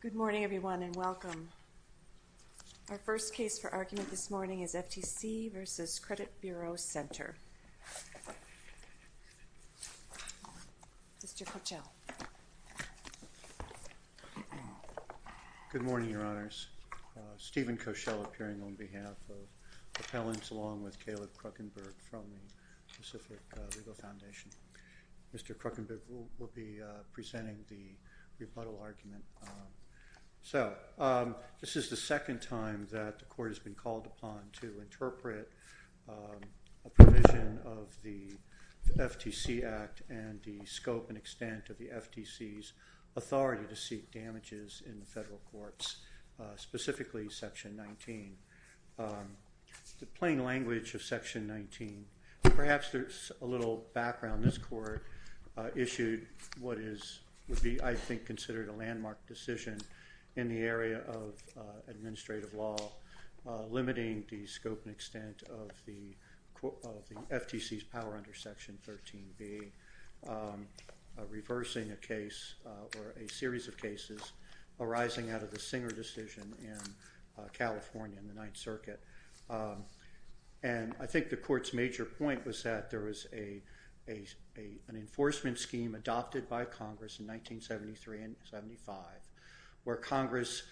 Good morning, everyone, and welcome. Our first case for argument this morning is FTC v. Credit Bureau Center. Mr. Koechel. Good morning, Your Honors. Stephen Koechel appearing on behalf of appellants along with Caleb Kruckenberg from the Pacific Legal Foundation. Mr. Kruckenberg will be presenting the So, this is the second time that the court has been called upon to interpret a provision of the FTC Act and the scope and extent of the FTC's authority to seek damages in the federal courts, specifically Section 19. The plain language of Section 19, perhaps there's a little background, this court issued what is, would be, I think, considered a landmark decision in the area of administrative law limiting the scope and extent of the FTC's power under Section 13b, reversing a case or a series of cases arising out of the Singer decision in California in the Ninth Circuit. And, I think the court's major point was that there was an enforcement scheme adopted by Congress in 1973 and 75 where Congress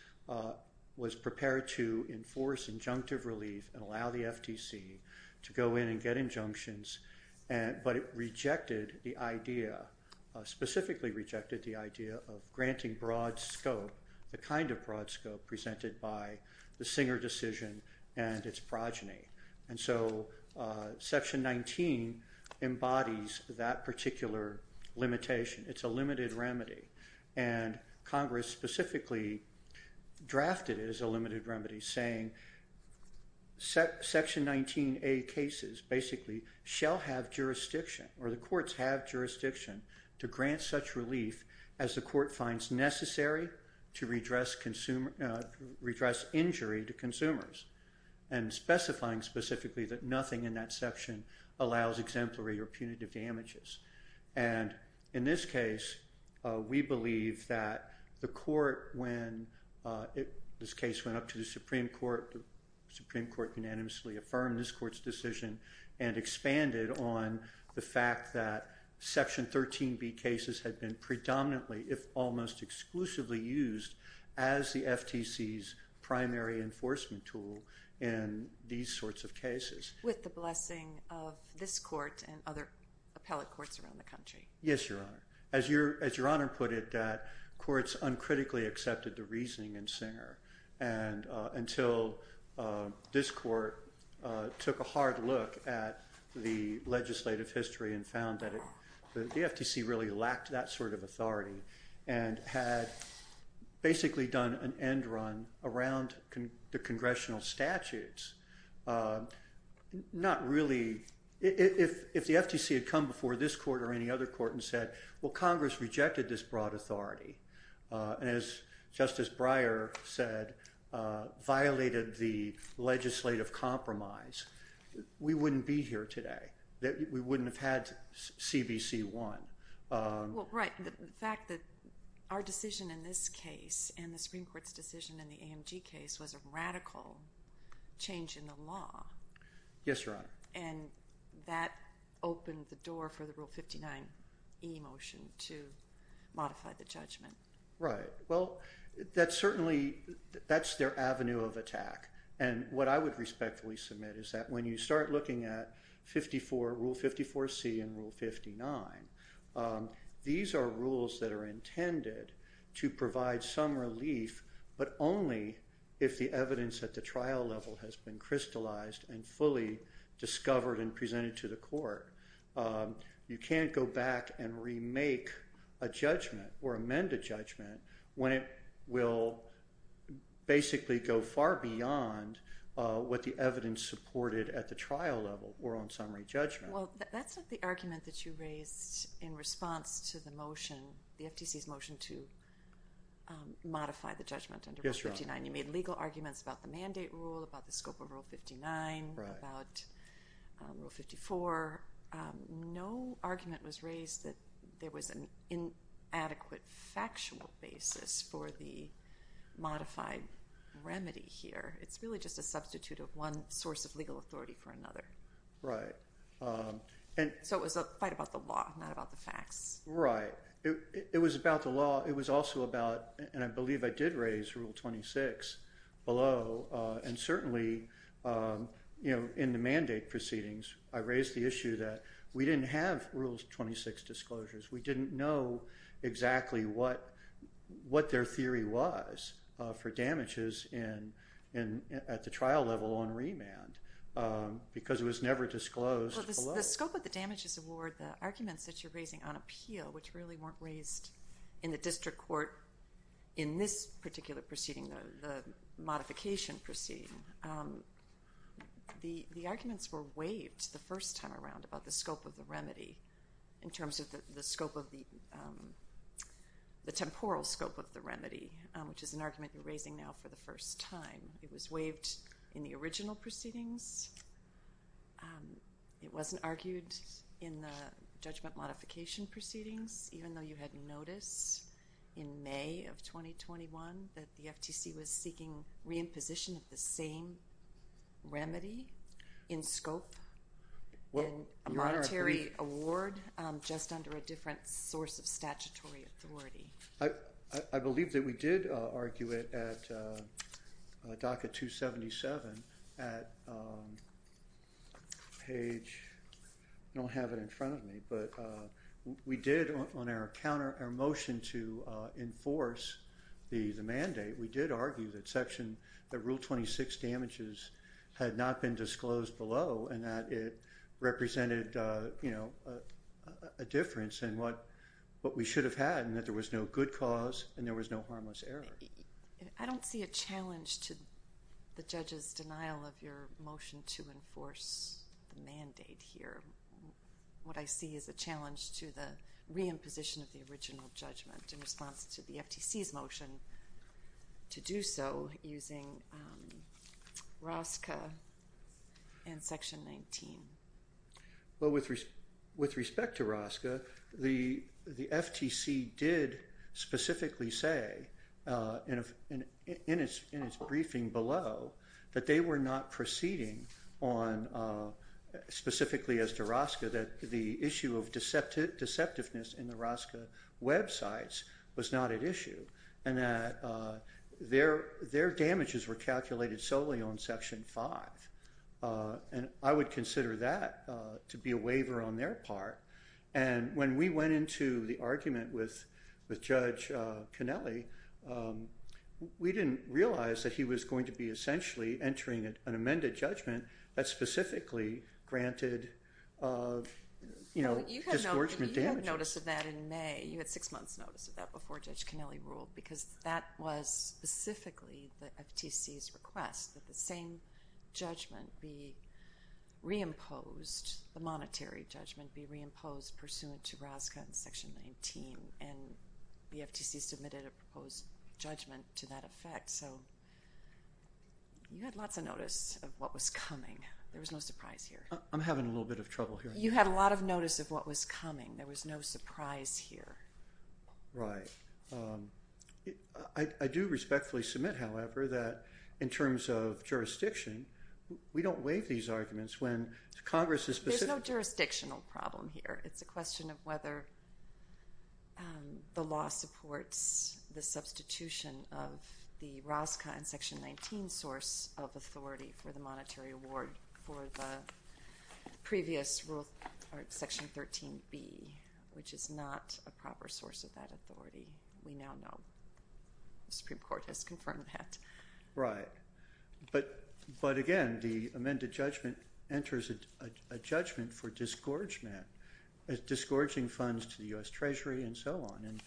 was prepared to enforce injunctive relief and allow the FTC to go in and get injunctions, but it rejected the idea, specifically rejected the idea of granting broad scope, the kind of broad scope presented by the Singer decision and its progeny. And so, Section 19 embodies that particular limitation, it's a limited remedy, and Congress specifically drafted it as a limited remedy saying Section 19a cases basically shall have jurisdiction to grant such relief as the court finds necessary to redress injury to consumers and specifying specifically that nothing in that section allows exemplary or punitive damages. And in this case, we believe that the court, when this case went up to the Supreme Court, the Supreme Court unanimously affirmed this court's decision and expanded on the fact that Section 13b cases had been predominantly, if almost exclusively, used as the FTC's primary enforcement tool in these sorts of cases. With the blessing of this court and other appellate courts around the country. Yes, Your Honor. As Your Honor put it, courts uncritically accepted the reasoning in Singer and until this court took a hard look at the legislative history and found that the FTC really lacked that sort of authority and had basically done an end run around the congressional statutes, not really, if the FTC had come before this court or any other court and said, well, Congress rejected this broad authority and as Justice Breyer said, violated the legislative compromise, we wouldn't be here today. We wouldn't have had CBC 1. Well, right. The fact that our decision in this case and the Supreme Court's decision in the AMG case was a radical change in the law. Yes, Your Honor. And that opened the door for the Rule 59e motion to modify the judgment. Right. Well, that's certainly, that's their avenue of attack and what I would respectfully submit is that when you start looking at Rule 54c and Rule 59, these are rules that are intended to provide some relief but only if the evidence at the trial level has been crystallized and fully discovered and presented to the court. You can't go back and remake a judgment or amend a judgment when it will basically go far beyond what the evidence supported at the trial level or on summary judgment. Well, that's not the argument that you raised in response to the motion, the FTC's motion Yes, Your Honor. When you made legal arguments about the mandate rule, about the scope of Rule 59, about Rule 54, no argument was raised that there was an inadequate factual basis for the modified remedy here. It's really just a substitute of one source of legal authority for another. Right. So it was quite about the law, not about the facts. Right. It was about the law. It was also about, and I believe I did raise Rule 26 below, and certainly in the mandate proceedings, I raised the issue that we didn't have Rule 26 disclosures. We didn't know exactly what their theory was for damages at the trial level on remand because it was never disclosed below. The scope of the damages award, the arguments that you're raising on appeal, which really weren't raised in the district court in this particular proceeding, the modification proceeding, the arguments were waived the first time around about the scope of the remedy in terms of the scope of the, the temporal scope of the remedy, which is an argument you're raising now for the first time. It was waived in the original proceedings. It wasn't argued in the judgment modification proceedings, even though you had noticed in May of 2021 that the FTC was seeking re-imposition of the same remedy in scope, a monetary award just under a different source of statutory authority. I believe that we did argue it at DACA 277 at page, I don't have it in front of me, but we did on our motion to enforce the mandate, we did argue that section, that Rule 26 damages had not been disclosed below and that it represented, you know, a difference in what we should have had and that there was no good cause and there was no harmless error. I don't see a challenge to the judge's denial of your motion to enforce the mandate here. What I see is a challenge to the re-imposition of the original judgment in response to the FTC's motion to do so using ROSCA and section 19. Well, with respect to ROSCA, the FTC did specifically say in its briefing below that they were not proceeding on, specifically as to ROSCA, that the issue of deceptiveness in the ROSCA websites was not at issue and that their damages were calculated solely on section 5. And I would consider that to be a waiver on their part. And when we went into the argument with Judge Conelli, we didn't realize that he was going to be essentially entering an amended judgment that specifically granted, you know, disgorgement damages. You had notice of that in May, you had six months notice of that before Judge Conelli ruled because that was specifically the FTC's request that the same judgment be re-imposed the monetary judgment be re-imposed pursuant to ROSCA and section 19 and the FTC submitted a proposed judgment to that effect. So you had lots of notice of what was coming. There was no surprise here. I'm having a little bit of trouble here. You had a lot of notice of what was coming. There was no surprise here. Right. I do respectfully submit, however, that in terms of jurisdiction, we don't waive these arguments when Congress is specific. There's no jurisdictional problem here. It's a question of whether the law supports the substitution of the ROSCA and section 19 source of authority for the monetary award for the previous rule, section 13B, which is not a proper source of that authority. We now know. The Supreme Court has confirmed that. Right. But again, the amended judgment enters a judgment for disgorging funds to the U.S. Treasury and so on. And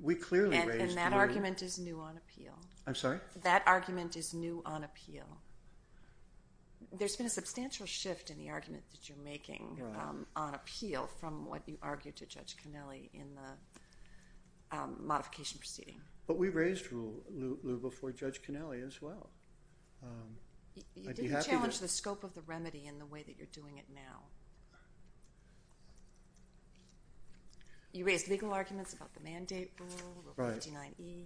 we clearly raised the rule. And that argument is new on appeal. I'm sorry? That argument is new on appeal. There's been a substantial shift in the argument that you're making on appeal from what you argued to Judge Conelli in the modification proceeding. But we raised rule before Judge Conelli as well. You didn't challenge the scope of the remedy in the way that you're doing it now. You raised legal arguments about the mandate rule, Rule 59E,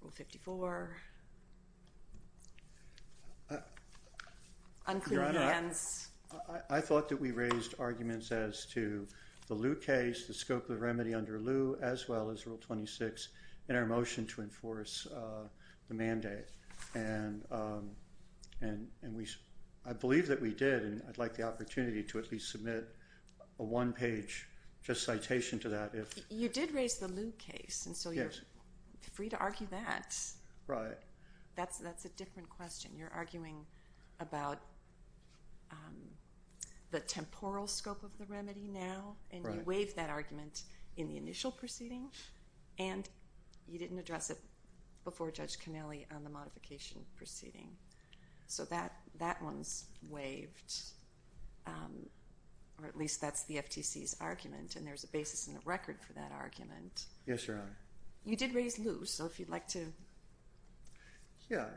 Rule 54, unclear hands. Your Honor, I thought that we raised arguments as to the Lew case, the scope of the remedy under Lew, as well as Rule 26 in our motion to enforce the mandate. And I believe that we did, and I'd like the opportunity to at least submit a one-page just citation to that. You did raise the Lew case, and so you're free to argue that. Right. That's a different question. You're arguing about the temporal scope of the remedy now, and you waived that argument in the initial proceeding, and you didn't address it before Judge Conelli on the modification proceeding. So that one's waived, or at least that's the FTC's argument, and there's a basis in the record for that argument. Yes, Your Honor. You did raise Lew, so if you'd like to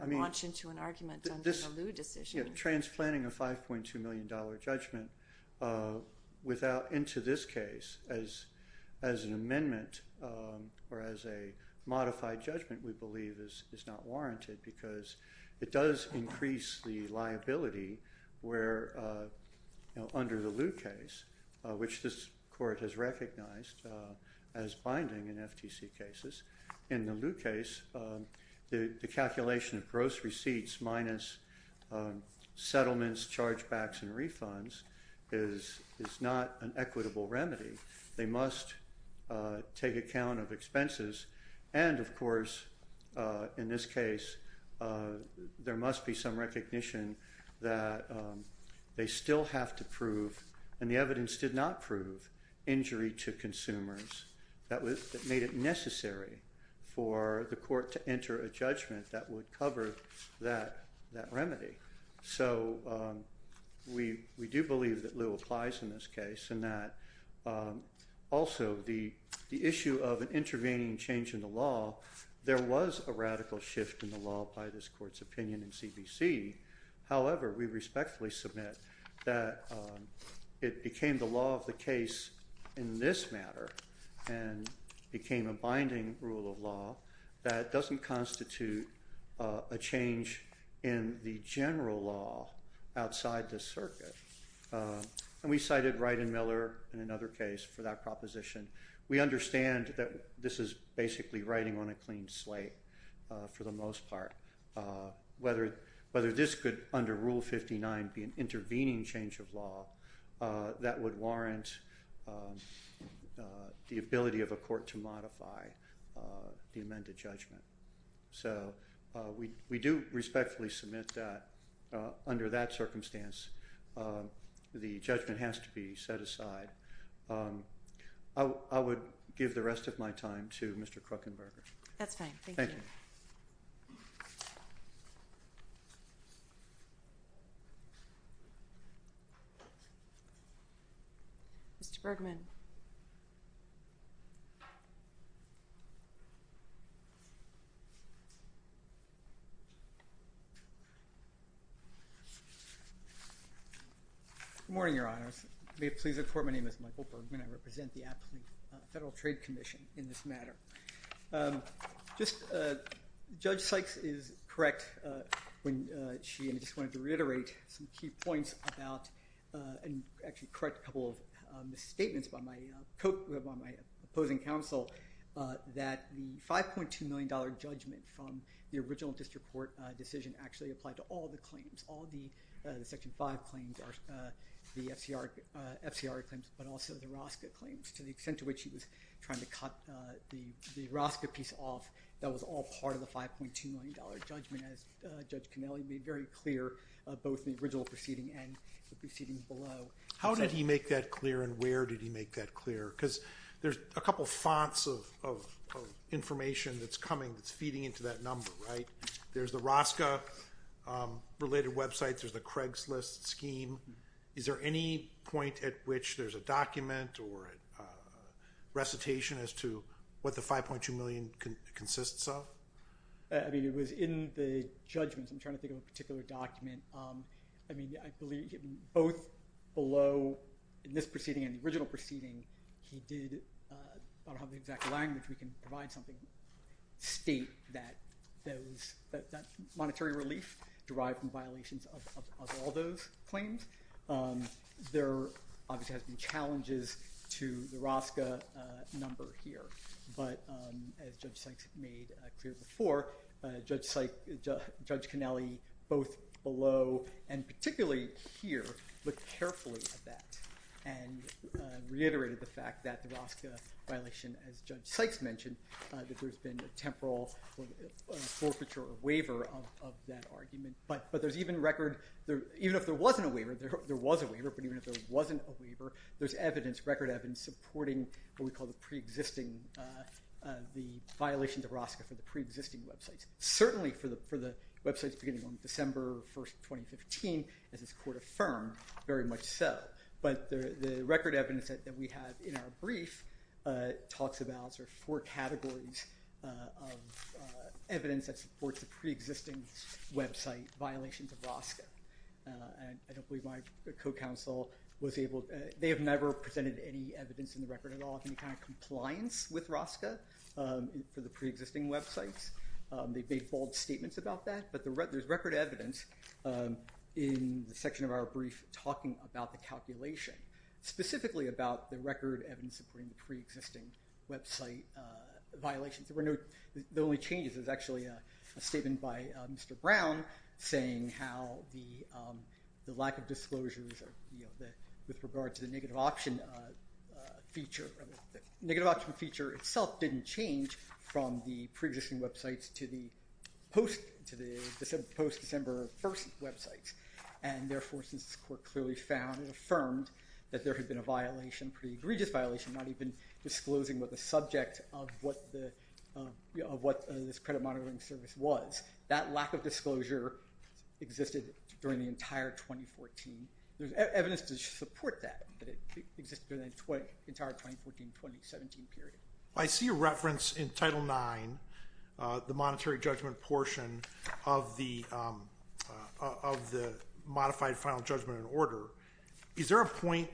launch into an argument on the Lew decision. Transplanting a $5.2 million judgment into this case as an amendment or as a modified judgment, we believe, is not warranted because it does increase the liability under the Lew case, which this Court has recognized as binding in FTC cases. In the Lew case, the calculation of gross receipts minus settlements, chargebacks, and refunds is not an equitable remedy. They must take account of expenses, and of course, in this case, there must be some recognition that they still have to prove, and the evidence did not prove, injury to consumers that made it necessary for the Court to enter a judgment that would cover that remedy. So, we do believe that Lew applies in this case, and that also the issue of an intervening change in the law, there was a radical shift in the law by this Court's opinion in CBC. However, we respectfully submit that it became the law of the case in this matter, and it became a binding rule of law that doesn't constitute a change in the general law outside the circuit. And we cited Wright and Miller in another case for that proposition. We understand that this is basically writing on a clean slate for the most part. Whether this could, under Rule 59, be an intervening change of law that would warrant the ability of a Court to modify the amended judgment. So, we do respectfully submit that under that circumstance, the judgment has to be set aside. I would give the rest of my time to Mr. Kruckenberger. That's fine. Thank you. Thank you. Mr. Bergman. Good morning, Your Honors. May it please the Court, my name is Michael Bergman. I represent the African Federal Trade Commission in this matter. Just, Judge Sykes is correct when she, and I just wanted to reiterate some key points about, and actually correct a couple of misstatements by my opposing counsel, that the $5.2 million judgment from the original District Court decision actually applied to all the claims, all the Section 5 claims, the FCR claims, but also the Rosca claims, to the extent to which she was trying to cut the Rosca piece off that was all part of the $5.2 million judgment as Judge Canelli made very clear, both the original proceeding and the proceeding below. How did he make that clear and where did he make that clear? Because there's a couple of fonts of information that's coming, that's feeding into that number, right? There's the Rosca-related websites, there's the Craigslist scheme. Is there any point at which there's a document or recitation as to what the $5.2 million consists of? I mean, it was in the judgments. I'm trying to think of a particular document. I mean, I believe both below, in this proceeding and the original proceeding, he did, I don't have the exact language, we can provide something, state that monetary relief derived from violations of all those claims. There obviously has been challenges to the Rosca number here, but as Judge Sykes made clear before, Judge Canelli, both below and particularly here, looked carefully at that and reiterated the fact that the Rosca violation, as Judge Sykes mentioned, that there's been a temporal forfeiture or waiver of that argument. But there's even record, even if there wasn't a waiver, there was a waiver, but even if there wasn't a waiver, there's evidence, record evidence, supporting what we call the pre-existing, the violation of Rosca for the pre-existing websites. Certainly for the websites beginning on December 1st, 2015, as this Court affirmed, very much so. But the record evidence that we have in our brief talks about, there's four categories of evidence that supports the pre-existing website violations of Rosca. I don't believe my co-counsel was able, they have never presented any evidence in the record at all of any kind of compliance with Rosca for the pre-existing websites. They've made bold statements about that, but there's record evidence in the section of our brief talking about the calculation, specifically about the record evidence supporting the pre-existing website violations. The only changes is actually a statement by Mr. Brown saying how the lack of disclosures with regard to the negative option feature itself didn't change from the pre-existing websites to the post-December 1st websites. And therefore, since this Court clearly found and affirmed that there had been a violation, a pretty egregious violation, not even disclosing what the subject of what this credit monitoring service was, that lack of disclosure existed during the entire 2014. There's evidence to support that, that it existed during the entire 2014-2017 period. I see a reference in Title IX, the monetary judgment portion of the modified final judgment in order. Is there a point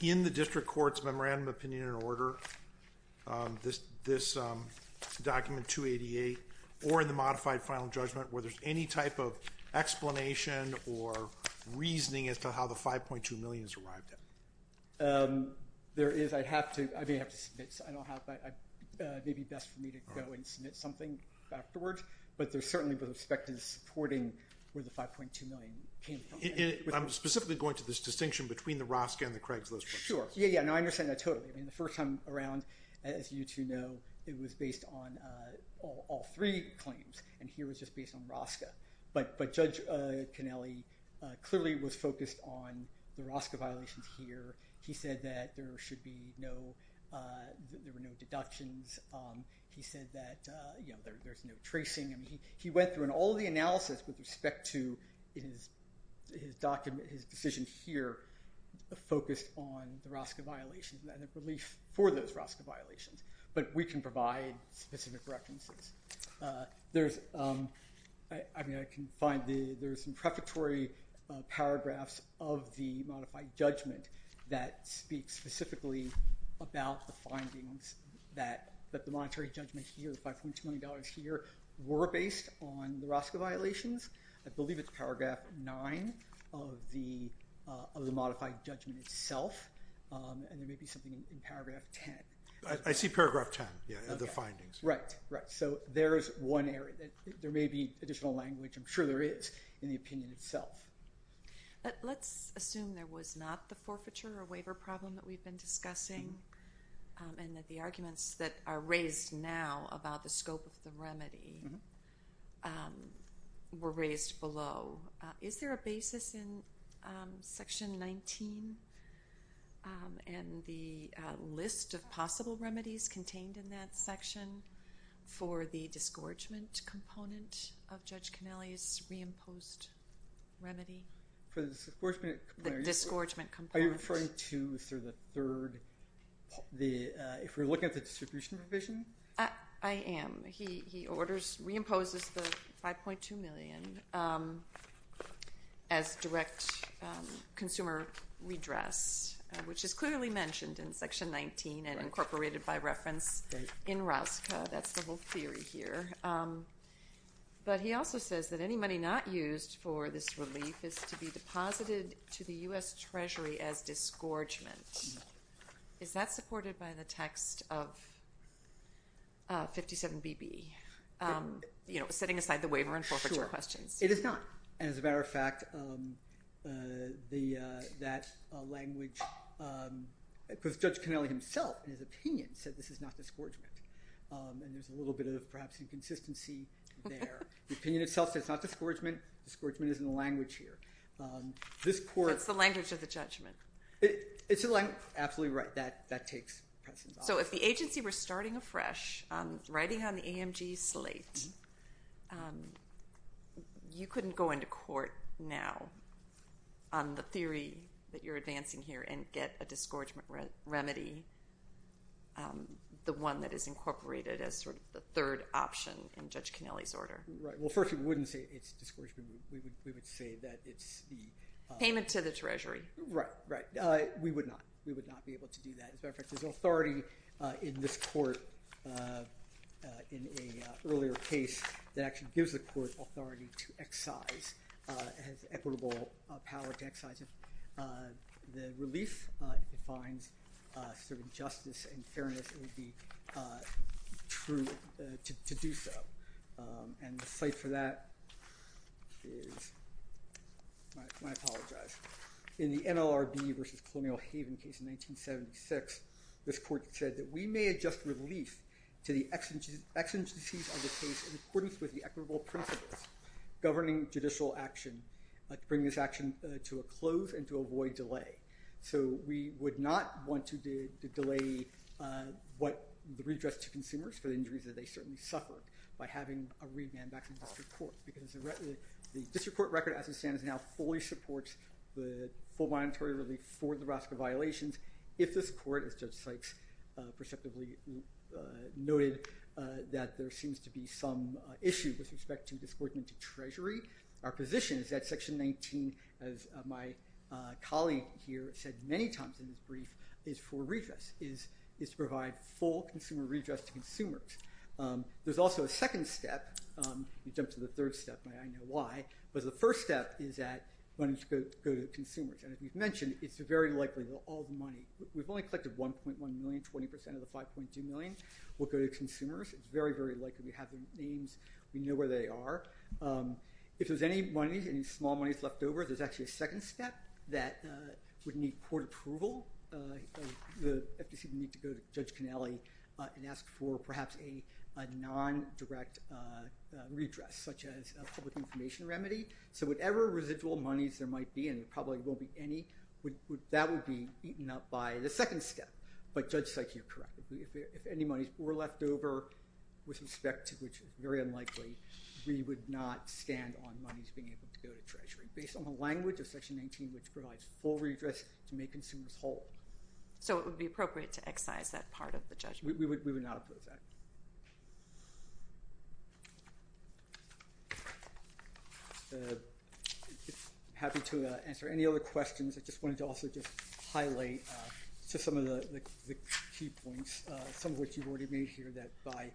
in the District Court's Memorandum of Opinion and Order, this document 288, or in the modified final judgment where there's any type of explanation or reasoning as to how the $5.2 million has arrived at? There is. I'd have to, I may have to submit, I don't have, it may be best for me to go and submit something afterwards, but there's certainly been a perspective supporting where the $5.2 million came from. I'm specifically going to this distinction between the Rosca and the Craigslist. Sure. Yeah, yeah. No, I understand that totally. The first time around, as you two know, it was based on all three claims, and here it was just based on Rosca. But Judge Cannelli clearly was focused on the Rosca violations here. He said that there should be no, there were no deductions. He said that, you know, there's no tracing. He went through and all the analysis with respect to his document, his decision here, focused on the Rosca violations and the belief for those Rosca violations. But we can provide specific references. There's, I mean, I can find the, there's some prefatory paragraphs of the modified judgment that speak specifically about the findings that the monetary judgment here, the $5.2 million here, were based on the Rosca violations. I believe it's paragraph 9 of the modified judgment itself, and there may be something in paragraph 10. I see paragraph 10, yeah, of the findings. Right, right. So there's one area. There may be additional language, I'm sure there is, in the opinion itself. Let's assume there was not the forfeiture or waiver problem that we've been discussing and that the arguments that are raised now about the scope of the remedy were raised below. Is there a basis in section 19 and the list of possible remedies contained in that section for the disgorgement component of Judge Connelly's reimposed remedy? For the disgorgement? The disgorgement component. Are you referring to sort of the third, if we're looking at the distribution provision? I am. He orders, reimposes the $5.2 million as direct consumer redress, which is clearly mentioned in section 19 and incorporated by reference in Rosca. That's the whole theory here. But he also says that any money not used for this relief is to be deposited to the U.S. Treasury as disgorgement. Is that supported by the text of 57BB, you know, setting aside the waiver and forfeiture questions? Sure. It is not. And as a matter of fact, that language, because Judge Connelly himself, in his opinion, said this is not disgorgement. And there's a little bit of perhaps inconsistency there. The opinion itself says it's not disgorgement. Disgorgement is in the language here. That's the language of the judgment. Absolutely right. That takes precedence. So if the agency were starting afresh, writing on the AMG slate, you couldn't go into court now on the theory that you're advancing here and get a disgorgement remedy, the one that is incorporated as sort of the third option in Judge Connelly's order. Right. Well, first, we wouldn't say it's disgorgement. We would say that it's the— Payment to the Treasury. Right. Right. We would not. We would not be able to do that. As a matter of fact, there's authority in this court in an earlier case that actually gives the court authority to excise, has equitable power to excise it. The relief defines sort of justice and fairness. It would be true to do so. And the site for that is—I apologize. In the NLRB versus Colonial Haven case in 1976, this court said that we may adjust relief to the exigencies of the case in accordance with the equitable principles governing judicial action to bring this action to a close and to avoid delay. So we would not want to delay what the redress to consumers for the injuries that they certainly suffered by having a remand back from the district court because the district court record as it stands now fully supports the full monetary relief for the Roscoe violations. If this court, as Judge Sykes perceptively noted, that there seems to be some issue with respect to disgorgement to Treasury, our position is that Section 19, as my colleague here said many times in this brief, is for redress, is to provide full consumer redress to consumers. There's also a second step. We've jumped to the third step. I know why. But the first step is that money should go to consumers. And as you've mentioned, it's very likely that all the money—we've only collected 1.1 million. Twenty percent of the 5.2 million will go to consumers. It's very, very likely we have the names. We know where they are. If there's any money, any small monies left over, there's actually a second step that would need court approval. The FTC would need to go to Judge Connelly and ask for perhaps a nondirect redress, such as a public information remedy. So whatever residual monies there might be, and there probably won't be any, that would be eaten up by the second step. But Judge Sykes, you're correct. If any monies were left over with respect to which is very unlikely, we would not stand on monies being able to go to Treasury. Based on the language of Section 19, which provides full redress to make consumers whole. So it would be appropriate to excise that part of the judgment? We would not approve that. I'm happy to answer any other questions. I just wanted to also just highlight some of the key points, some of which you've already made here, that by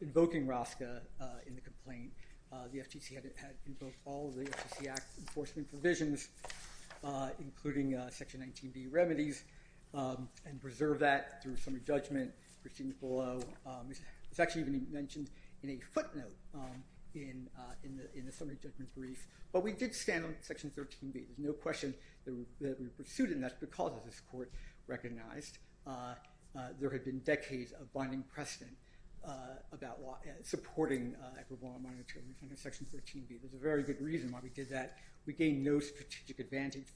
invoking ROSCA in the complaint, the FTC had invoked all of the FTC Act enforcement provisions, including Section 19b remedies, and preserved that through a summary judgment. Christine Follow was actually even mentioned in a footnote in the summary judgment brief. But we did stand on Section 13b. There's no question that we pursued it, and that's because this court recognized there had been decades of binding precedent about supporting equivalent monetary under Section 13b. There's a very good reason why we did that. We gained no strategic advantage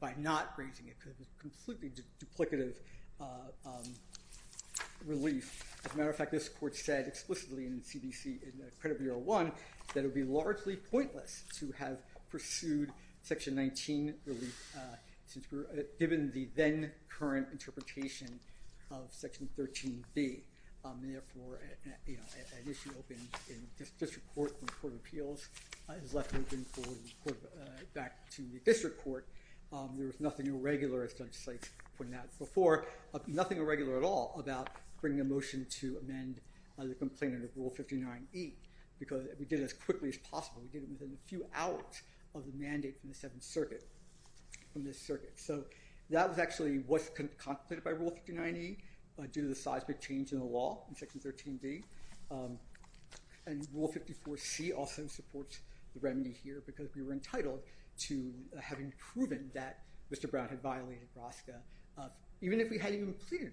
by not grazing it, because it's a completely duplicative relief. As a matter of fact, this court said explicitly in the CDC, in the credit Bureau 1, that it would be largely pointless to have pursued Section 19 relief, given the then-current interpretation of Section 13b. Therefore, an issue opened in the district court when the Court of Appeals has left open for the court to report back to the district court. There was nothing irregular, as Judge Sykes pointed out before, nothing irregular at all about bringing a motion to amend the complaint under Rule 59e, because we did it as quickly as possible. We did it within a few hours of the mandate from the Seventh Circuit, from this circuit. So that was actually what's contemplated by Rule 59e, due to the seismic change in the law in Section 13b. And Rule 54c also supports the remedy here, because we were entitled to having proven that Mr. Brown had violated RASCA, even if we hadn't even pleaded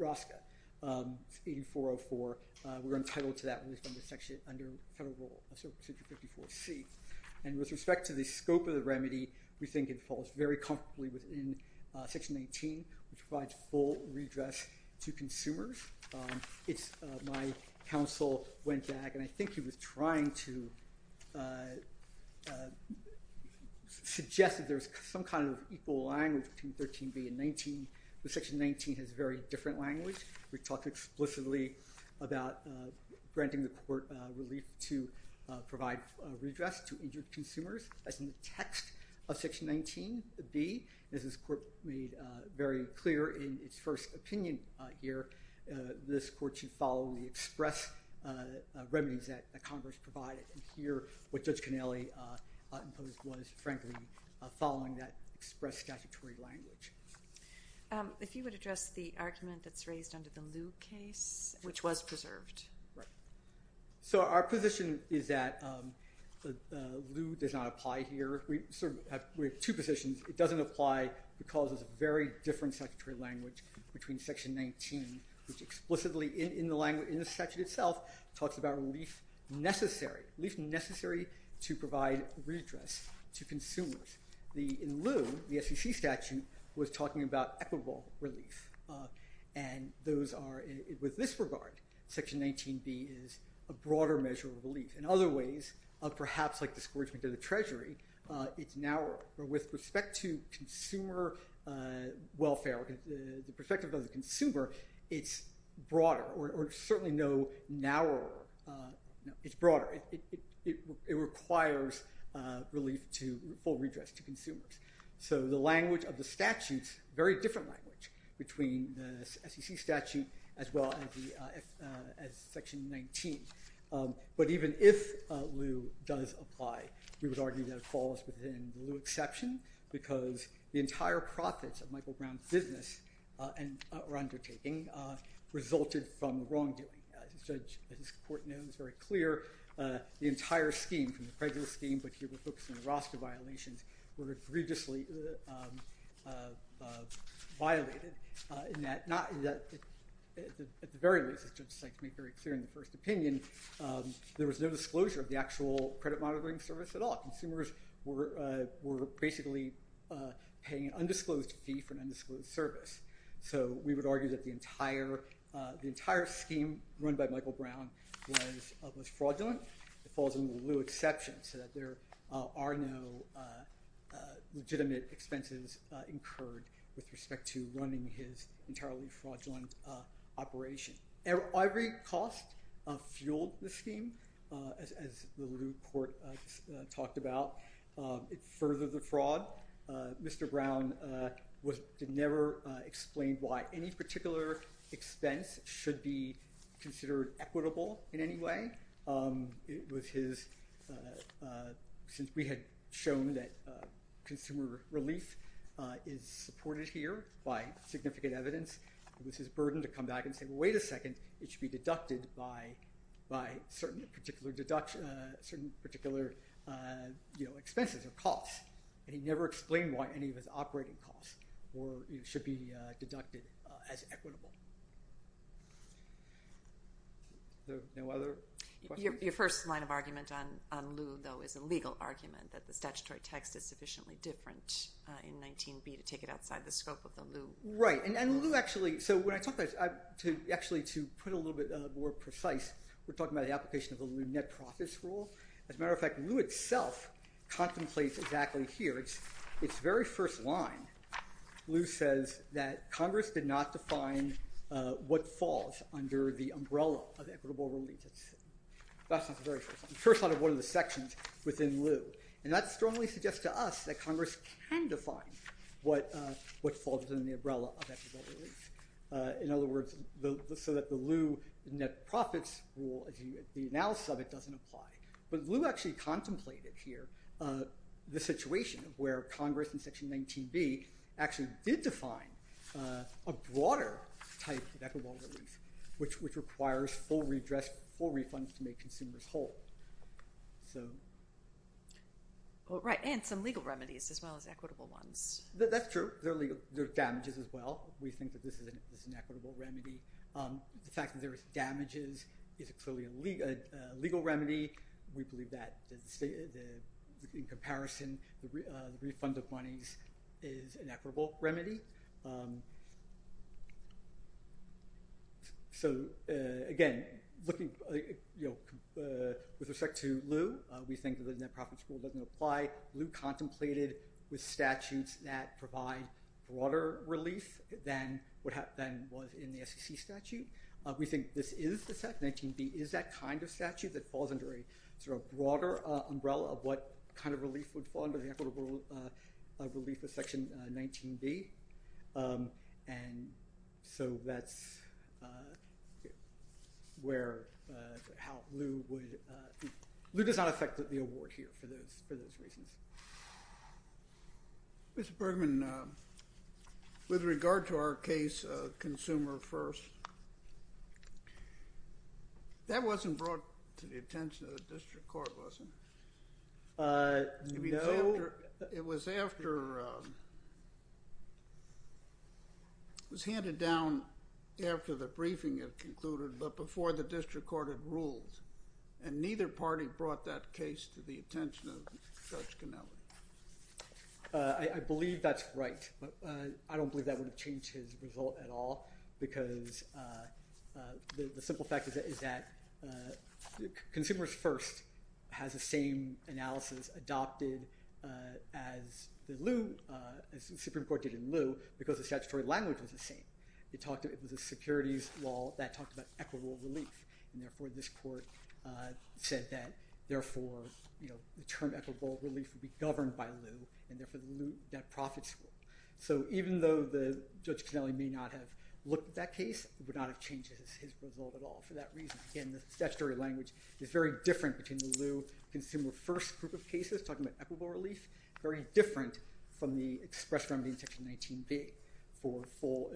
RASCA. It's 8404. We were entitled to that relief under Section, under Federal Rule 554c. And with respect to the scope of the remedy, we think it falls very comfortably within Section 18, which provides full redress to consumers. My counsel went back, and I think he was trying to suggest that there's some kind of equal language between 13b and 19, but Section 19 has a very different language. We talked explicitly about granting the court relief to provide redress to injured consumers as in the text of Section 19b. As this court made very clear in its first opinion here, this court should follow the express remedies that Congress provided. And here, what Judge Cannelli imposed was, frankly, following that express statutory language. If you would address the argument that's raised under the Liu case, which was preserved. So our position is that Liu does not apply here. We have two positions. It doesn't apply because it's a very different statutory language between Section 19, which explicitly in the statute itself talks about relief necessary, relief necessary to provide redress to consumers. In Liu, the SEC statute was talking about equitable relief. And those are, with this regard, Section 19b is a broader measure of relief. In other ways, perhaps like discouragement to the Treasury, it's narrower. With respect to consumer welfare, the perspective of the consumer, it's broader. Or certainly no narrower. It's broader. It requires relief to full redress to consumers. So the language of the statutes, very different language between the SEC statute as well as Section 19. But even if Liu does apply, we would argue that it falls within the Liu exception because the entire profits of Michael Brown's business or undertaking resulted from wrongdoing. As the judge at this court knows very clear, the entire scheme, from the prejudice scheme but here we're focusing on the roster violations, were egregiously violated. In that, at the very least, as Judge Steinck made very clear in the first opinion, there was no disclosure of the actual credit monitoring service at all. Consumers were basically paying an undisclosed fee for an undisclosed service. So we would argue that the entire scheme run by Michael Brown was fraudulent. It falls in the Liu exception so that there are no legitimate expenses incurred with respect to running his entirely fraudulent operation. Every cost fueled the scheme, as the Liu court talked about. It furthered the fraud. Mr. Brown never explained why any particular expense should be considered equitable in any way. It was his, since we had shown that consumer relief is supported here by significant evidence, it was his burden to come back and say, wait a second, it should be deducted by certain particular expenses or costs. And he never explained why any of his operating costs should be deducted as equitable. No other questions? Your first line of argument on Liu, though, is a legal argument that the statutory text is sufficiently different in 19b to take it outside the scope of the Liu. Right. And Liu actually, so when I talk about this, actually to put it a little bit more precise, we're talking about the application of the Liu net profits rule. As a matter of fact, Liu itself contemplates exactly here. Its very first line, Liu says that Congress did not define what falls under the umbrella of equitable relief. That's the very first line, the first line of one of the sections within Liu. And that strongly suggests to us that Congress can define what falls under the umbrella of equitable relief. In other words, so that the Liu net profits rule, the analysis of it doesn't apply. But Liu actually contemplated here the situation where Congress in section 19b actually did define a broader type of equitable relief, which requires full refunds to make consumers whole. Right. And some legal remedies as well as equitable ones. That's true. There are damages as well. We think that this is an equitable remedy. The fact that there's damages is clearly a legal remedy. We believe that in comparison, the refund of monies is an equitable remedy. So again, with respect to Liu, we think that the net profits rule doesn't apply. Liu contemplated the statutes that provide broader relief than what was in the SEC statute. We think this is the section 19b is that kind of statute that falls under a sort of broader umbrella of what kind of relief would fall under the equitable relief of section 19b. And so that's where, how Liu would, Liu does not affect the award here for those reasons. Mr. Bergman, with regard to our case, Consumer First, that wasn't brought to the attention of the district court, was it? No. It was after, it was handed down after the briefing had concluded, but before the district court had ruled. And neither party brought that case to the attention of Judge Cannella. I believe that's right, but I don't believe that would have changed his result at all because the simple fact is that Consumers First has the same analysis adopted as the Liu, as the Supreme Court did in Liu, because the statutory language was the same. It talked, it was a securities law that talked about equitable relief. And therefore this court said that therefore, you know, the term equitable relief would be governed by Liu, and therefore the Liu net profits rule. So even though the Judge Cannella may not have looked at that case, it would not have changed his result at all for that reason. Again, the statutory language is very different between the Liu Consumer First group of cases talking about equitable relief, very different from the express remedy in section 19b for full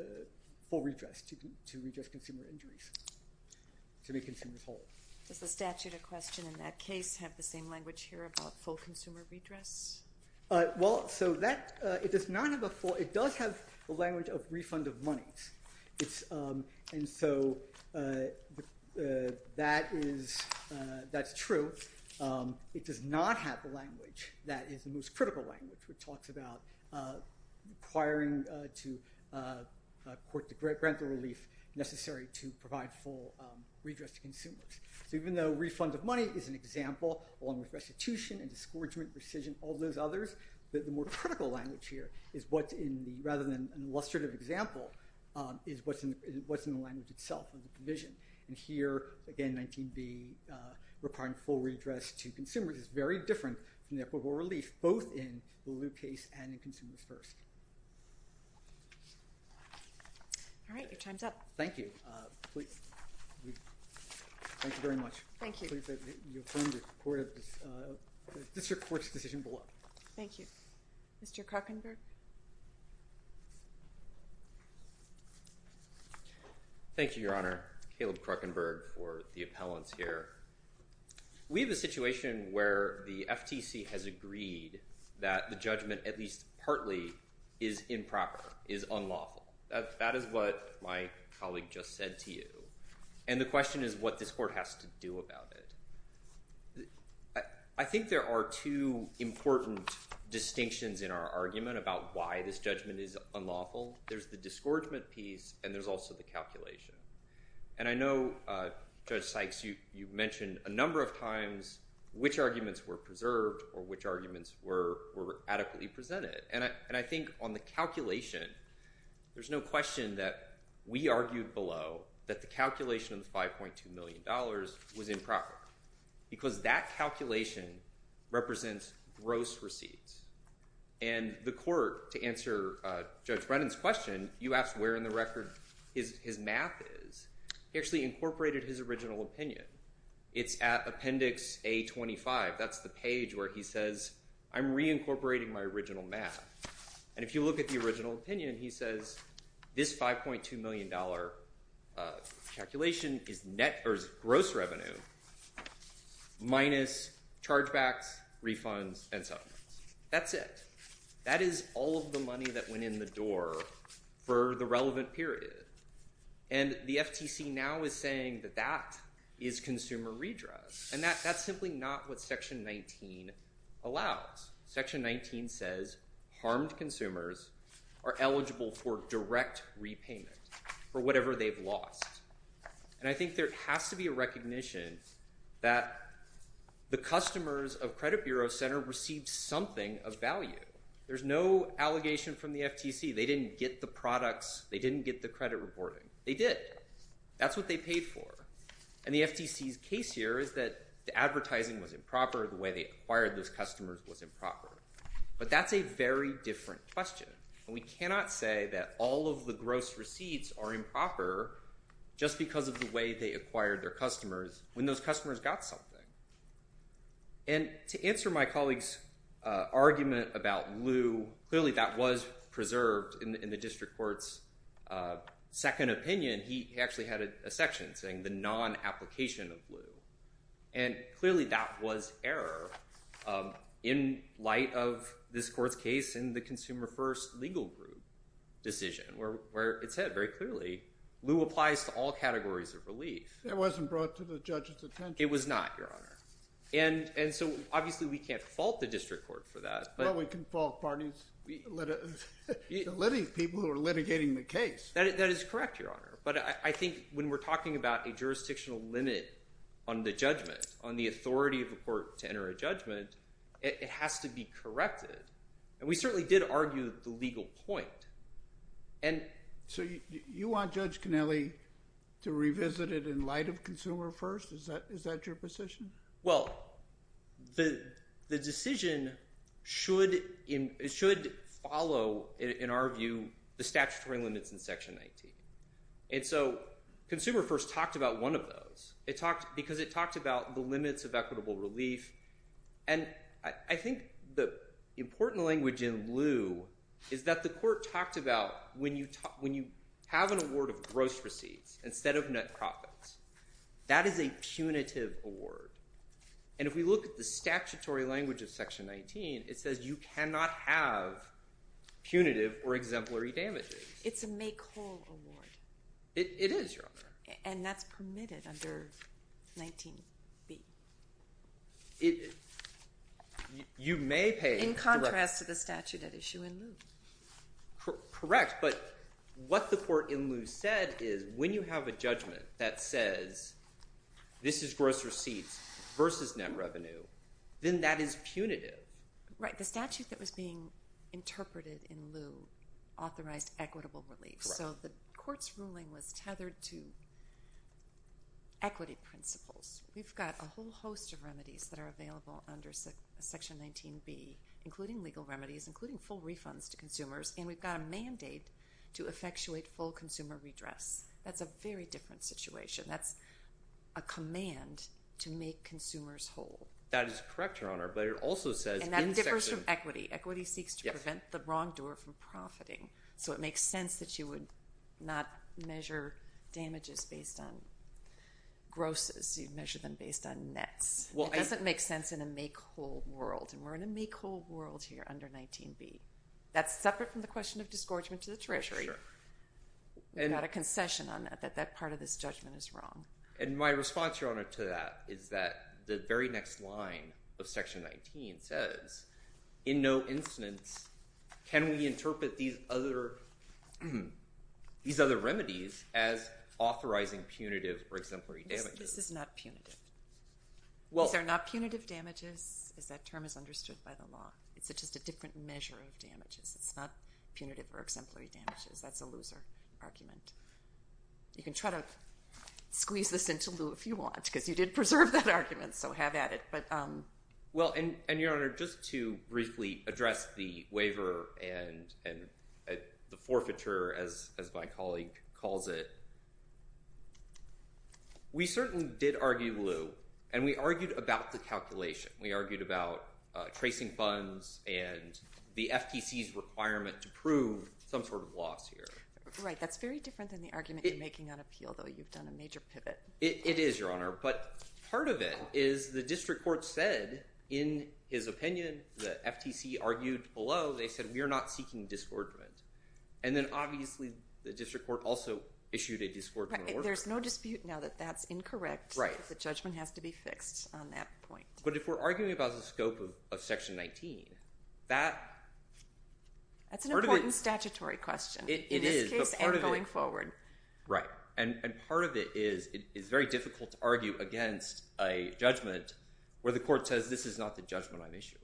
redress, to redress consumer injuries, to make consumers whole. Does the statute of question in that case have the same language here about full consumer redress? Well, so that, it does not have a full, it does have the language of refund of monies. It's, and so that is, that's true. It does not have the language that is the most critical language, which talks about requiring to court to grant the relief necessary to provide full redress to consumers. So even though refund of money is an example, along with restitution and disgorgement, and rescission, all those others, the more critical language here is what's in, rather than an illustrative example, is what's in the language itself, the provision. And here, again, 19b requiring full redress to consumers is very different from equitable relief, both in the Liu case and in Consumers First. All right, your time's up. Thank you. Thank you very much. Thank you. Thank you. Thank you. Mr. Kruckenberg? Thank you, Your Honor. Caleb Kruckenberg for the appellants here. We have a situation where the FTC has agreed that the judgment, at least partly, is improper, is unlawful. That is what my colleague just said to you. And the question is what this court has to do about it. I think there are two important distinctions in our argument about why this judgment is unlawful. There's the disgorgement piece, and there's also the calculation. And I know, Judge Sykes, you've mentioned a number of times which arguments were preserved or which arguments were adequately presented. And I think on the calculation, there's no question that we argued below that the calculation of the $5.2 million was improper, because that calculation represents gross receipts. And the court, to answer Judge Brennan's question, you asked where in the record his math is. He actually incorporated his original opinion. It's at Appendix A-25. That's the page where he says, I'm reincorporating my original math. And if you look at the original opinion, he says this $5.2 million calculation is gross revenue minus chargebacks, refunds, and settlements. That's it. That is all of the money that went in the door for the relevant period. And the FTC now is saying that that is consumer redress. And that's simply not what Section 19 allows. Section 19 says harmed consumers are eligible for direct repayment for whatever they've lost. And I think there has to be a recognition that the customers of Credit Bureau Center received something of value. There's no allegation from the FTC. They didn't get the products. They didn't get the credit reporting. They did. That's what they paid for. And the FTC's case here is that the advertising was improper. The way they acquired those customers was improper. But that's a very different question. And we cannot say that all of the gross receipts are improper just because of the way they acquired their customers when those customers got something. And to answer my colleague's argument about lieu, clearly that was preserved in the district court's second opinion. He actually had a section saying the non-application of lieu. And clearly that was error in light of this court's case in the Consumer First Legal Group decision where it said very clearly lieu applies to all categories of relief. It wasn't brought to the judge's attention. It was not, Your Honor. And so obviously we can't fault the district court for that. Well, we can fault parties, people who are litigating the case. That is correct, Your Honor. But I think when we're talking about a jurisdictional limit on the judgment, on the authority of a court to enter a judgment, it has to be corrected. And we certainly did argue the legal point. So you want Judge Connelly to revisit it in light of Consumer First? Is that your position? Well, the decision should follow, in our view, the statutory limits in Section 19. And so Consumer First talked about one of those because it talked about the limits of equitable relief. And I think the important language in lieu is that the court talked about when you have an award of gross receipts instead of net profits, that is a punitive award. And if we look at the statutory language of Section 19, it says you cannot have punitive or exemplary damages. It's a make-whole award. It is, Your Honor. And that's permitted under 19b. In contrast to the statute at issue in lieu. Correct. But what the court in lieu said is when you have a judgment that says this is gross receipts versus net revenue, then that is punitive. Right. The statute that was being interpreted in lieu authorized equitable relief. So the court's ruling was tethered to equity principles. We've got a whole host of remedies that are available under Section 19b, including legal exemptions for consumers. And we've got a mandate to effectuate full consumer redress. That's a very different situation. That's a command to make consumers whole. That is correct, Your Honor. But it also says in the section. And that differs from equity. Equity seeks to prevent the wrongdoer from profiting. So it makes sense that you would not measure damages based on grosses. You measure them based on nets. It doesn't make sense in a make-whole world. And we're in a make-whole world here under 19b. That's separate from the question of disgorgement to the Treasury. We've got a concession on that, that that part of this judgment is wrong. And my response, Your Honor, to that is that the very next line of Section 19 says, in no instance can we interpret these other remedies as authorizing punitive or exemplary damages. This is not punitive. These are not punitive damages, as that term is understood by the law. It's just a different measure of damages. It's not punitive or exemplary damages. That's a loser argument. You can try to squeeze this into Lew, if you want, because you did preserve that argument. So have at it. Well, and, Your Honor, just to briefly address the waiver and the forfeiture, as my colleague calls it, we certainly did argue Lew. And we argued about the calculation. We argued about tracing funds and the FTC's requirement to prove some sort of loss here. Right. That's very different than the argument you're making on appeal, though. You've done a major pivot. It is, Your Honor. But part of it is the district court said, in his opinion, the FTC argued below, they said, we are not seeking disgorgement. And then, obviously, the district court also issued a disgorgement order. There's no dispute now that that's incorrect. Right. The judgment has to be fixed on that point. But if we're arguing about the scope of Section 19, that... That's an important statutory question. It is. In this case and going forward. Right. And part of it is it's very difficult to argue against a judgment where the court says, this is not the judgment I'm issuing.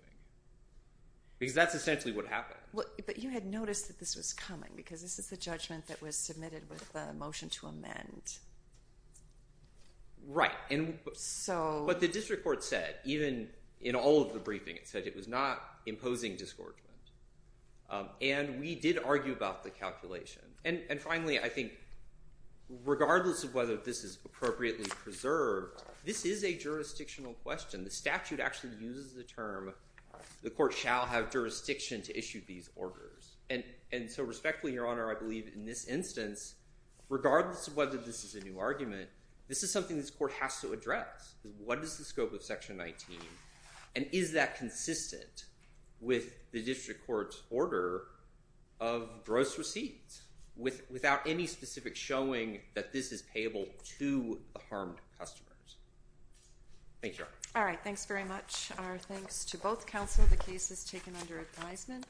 Because that's essentially what happened. But you had noticed that this was coming, because this is the judgment that was submitted with the motion to amend. Right. So... The court said, even in all of the briefing, it said it was not imposing disgorgement. And we did argue about the calculation. And finally, I think, regardless of whether this is appropriately preserved, this is a jurisdictional question. The statute actually uses the term, the court shall have jurisdiction to issue these orders. And so respectfully, Your Honor, I believe in this instance, this is something this court has to address. What is the scope of Section 19? And is that consistent with the district court's order of gross receipts? Without any specific showing that this is payable to the harmed customers? Thank you, Your Honor. All right. Thanks very much. Our thanks to both counsel. The case is taken under advisement.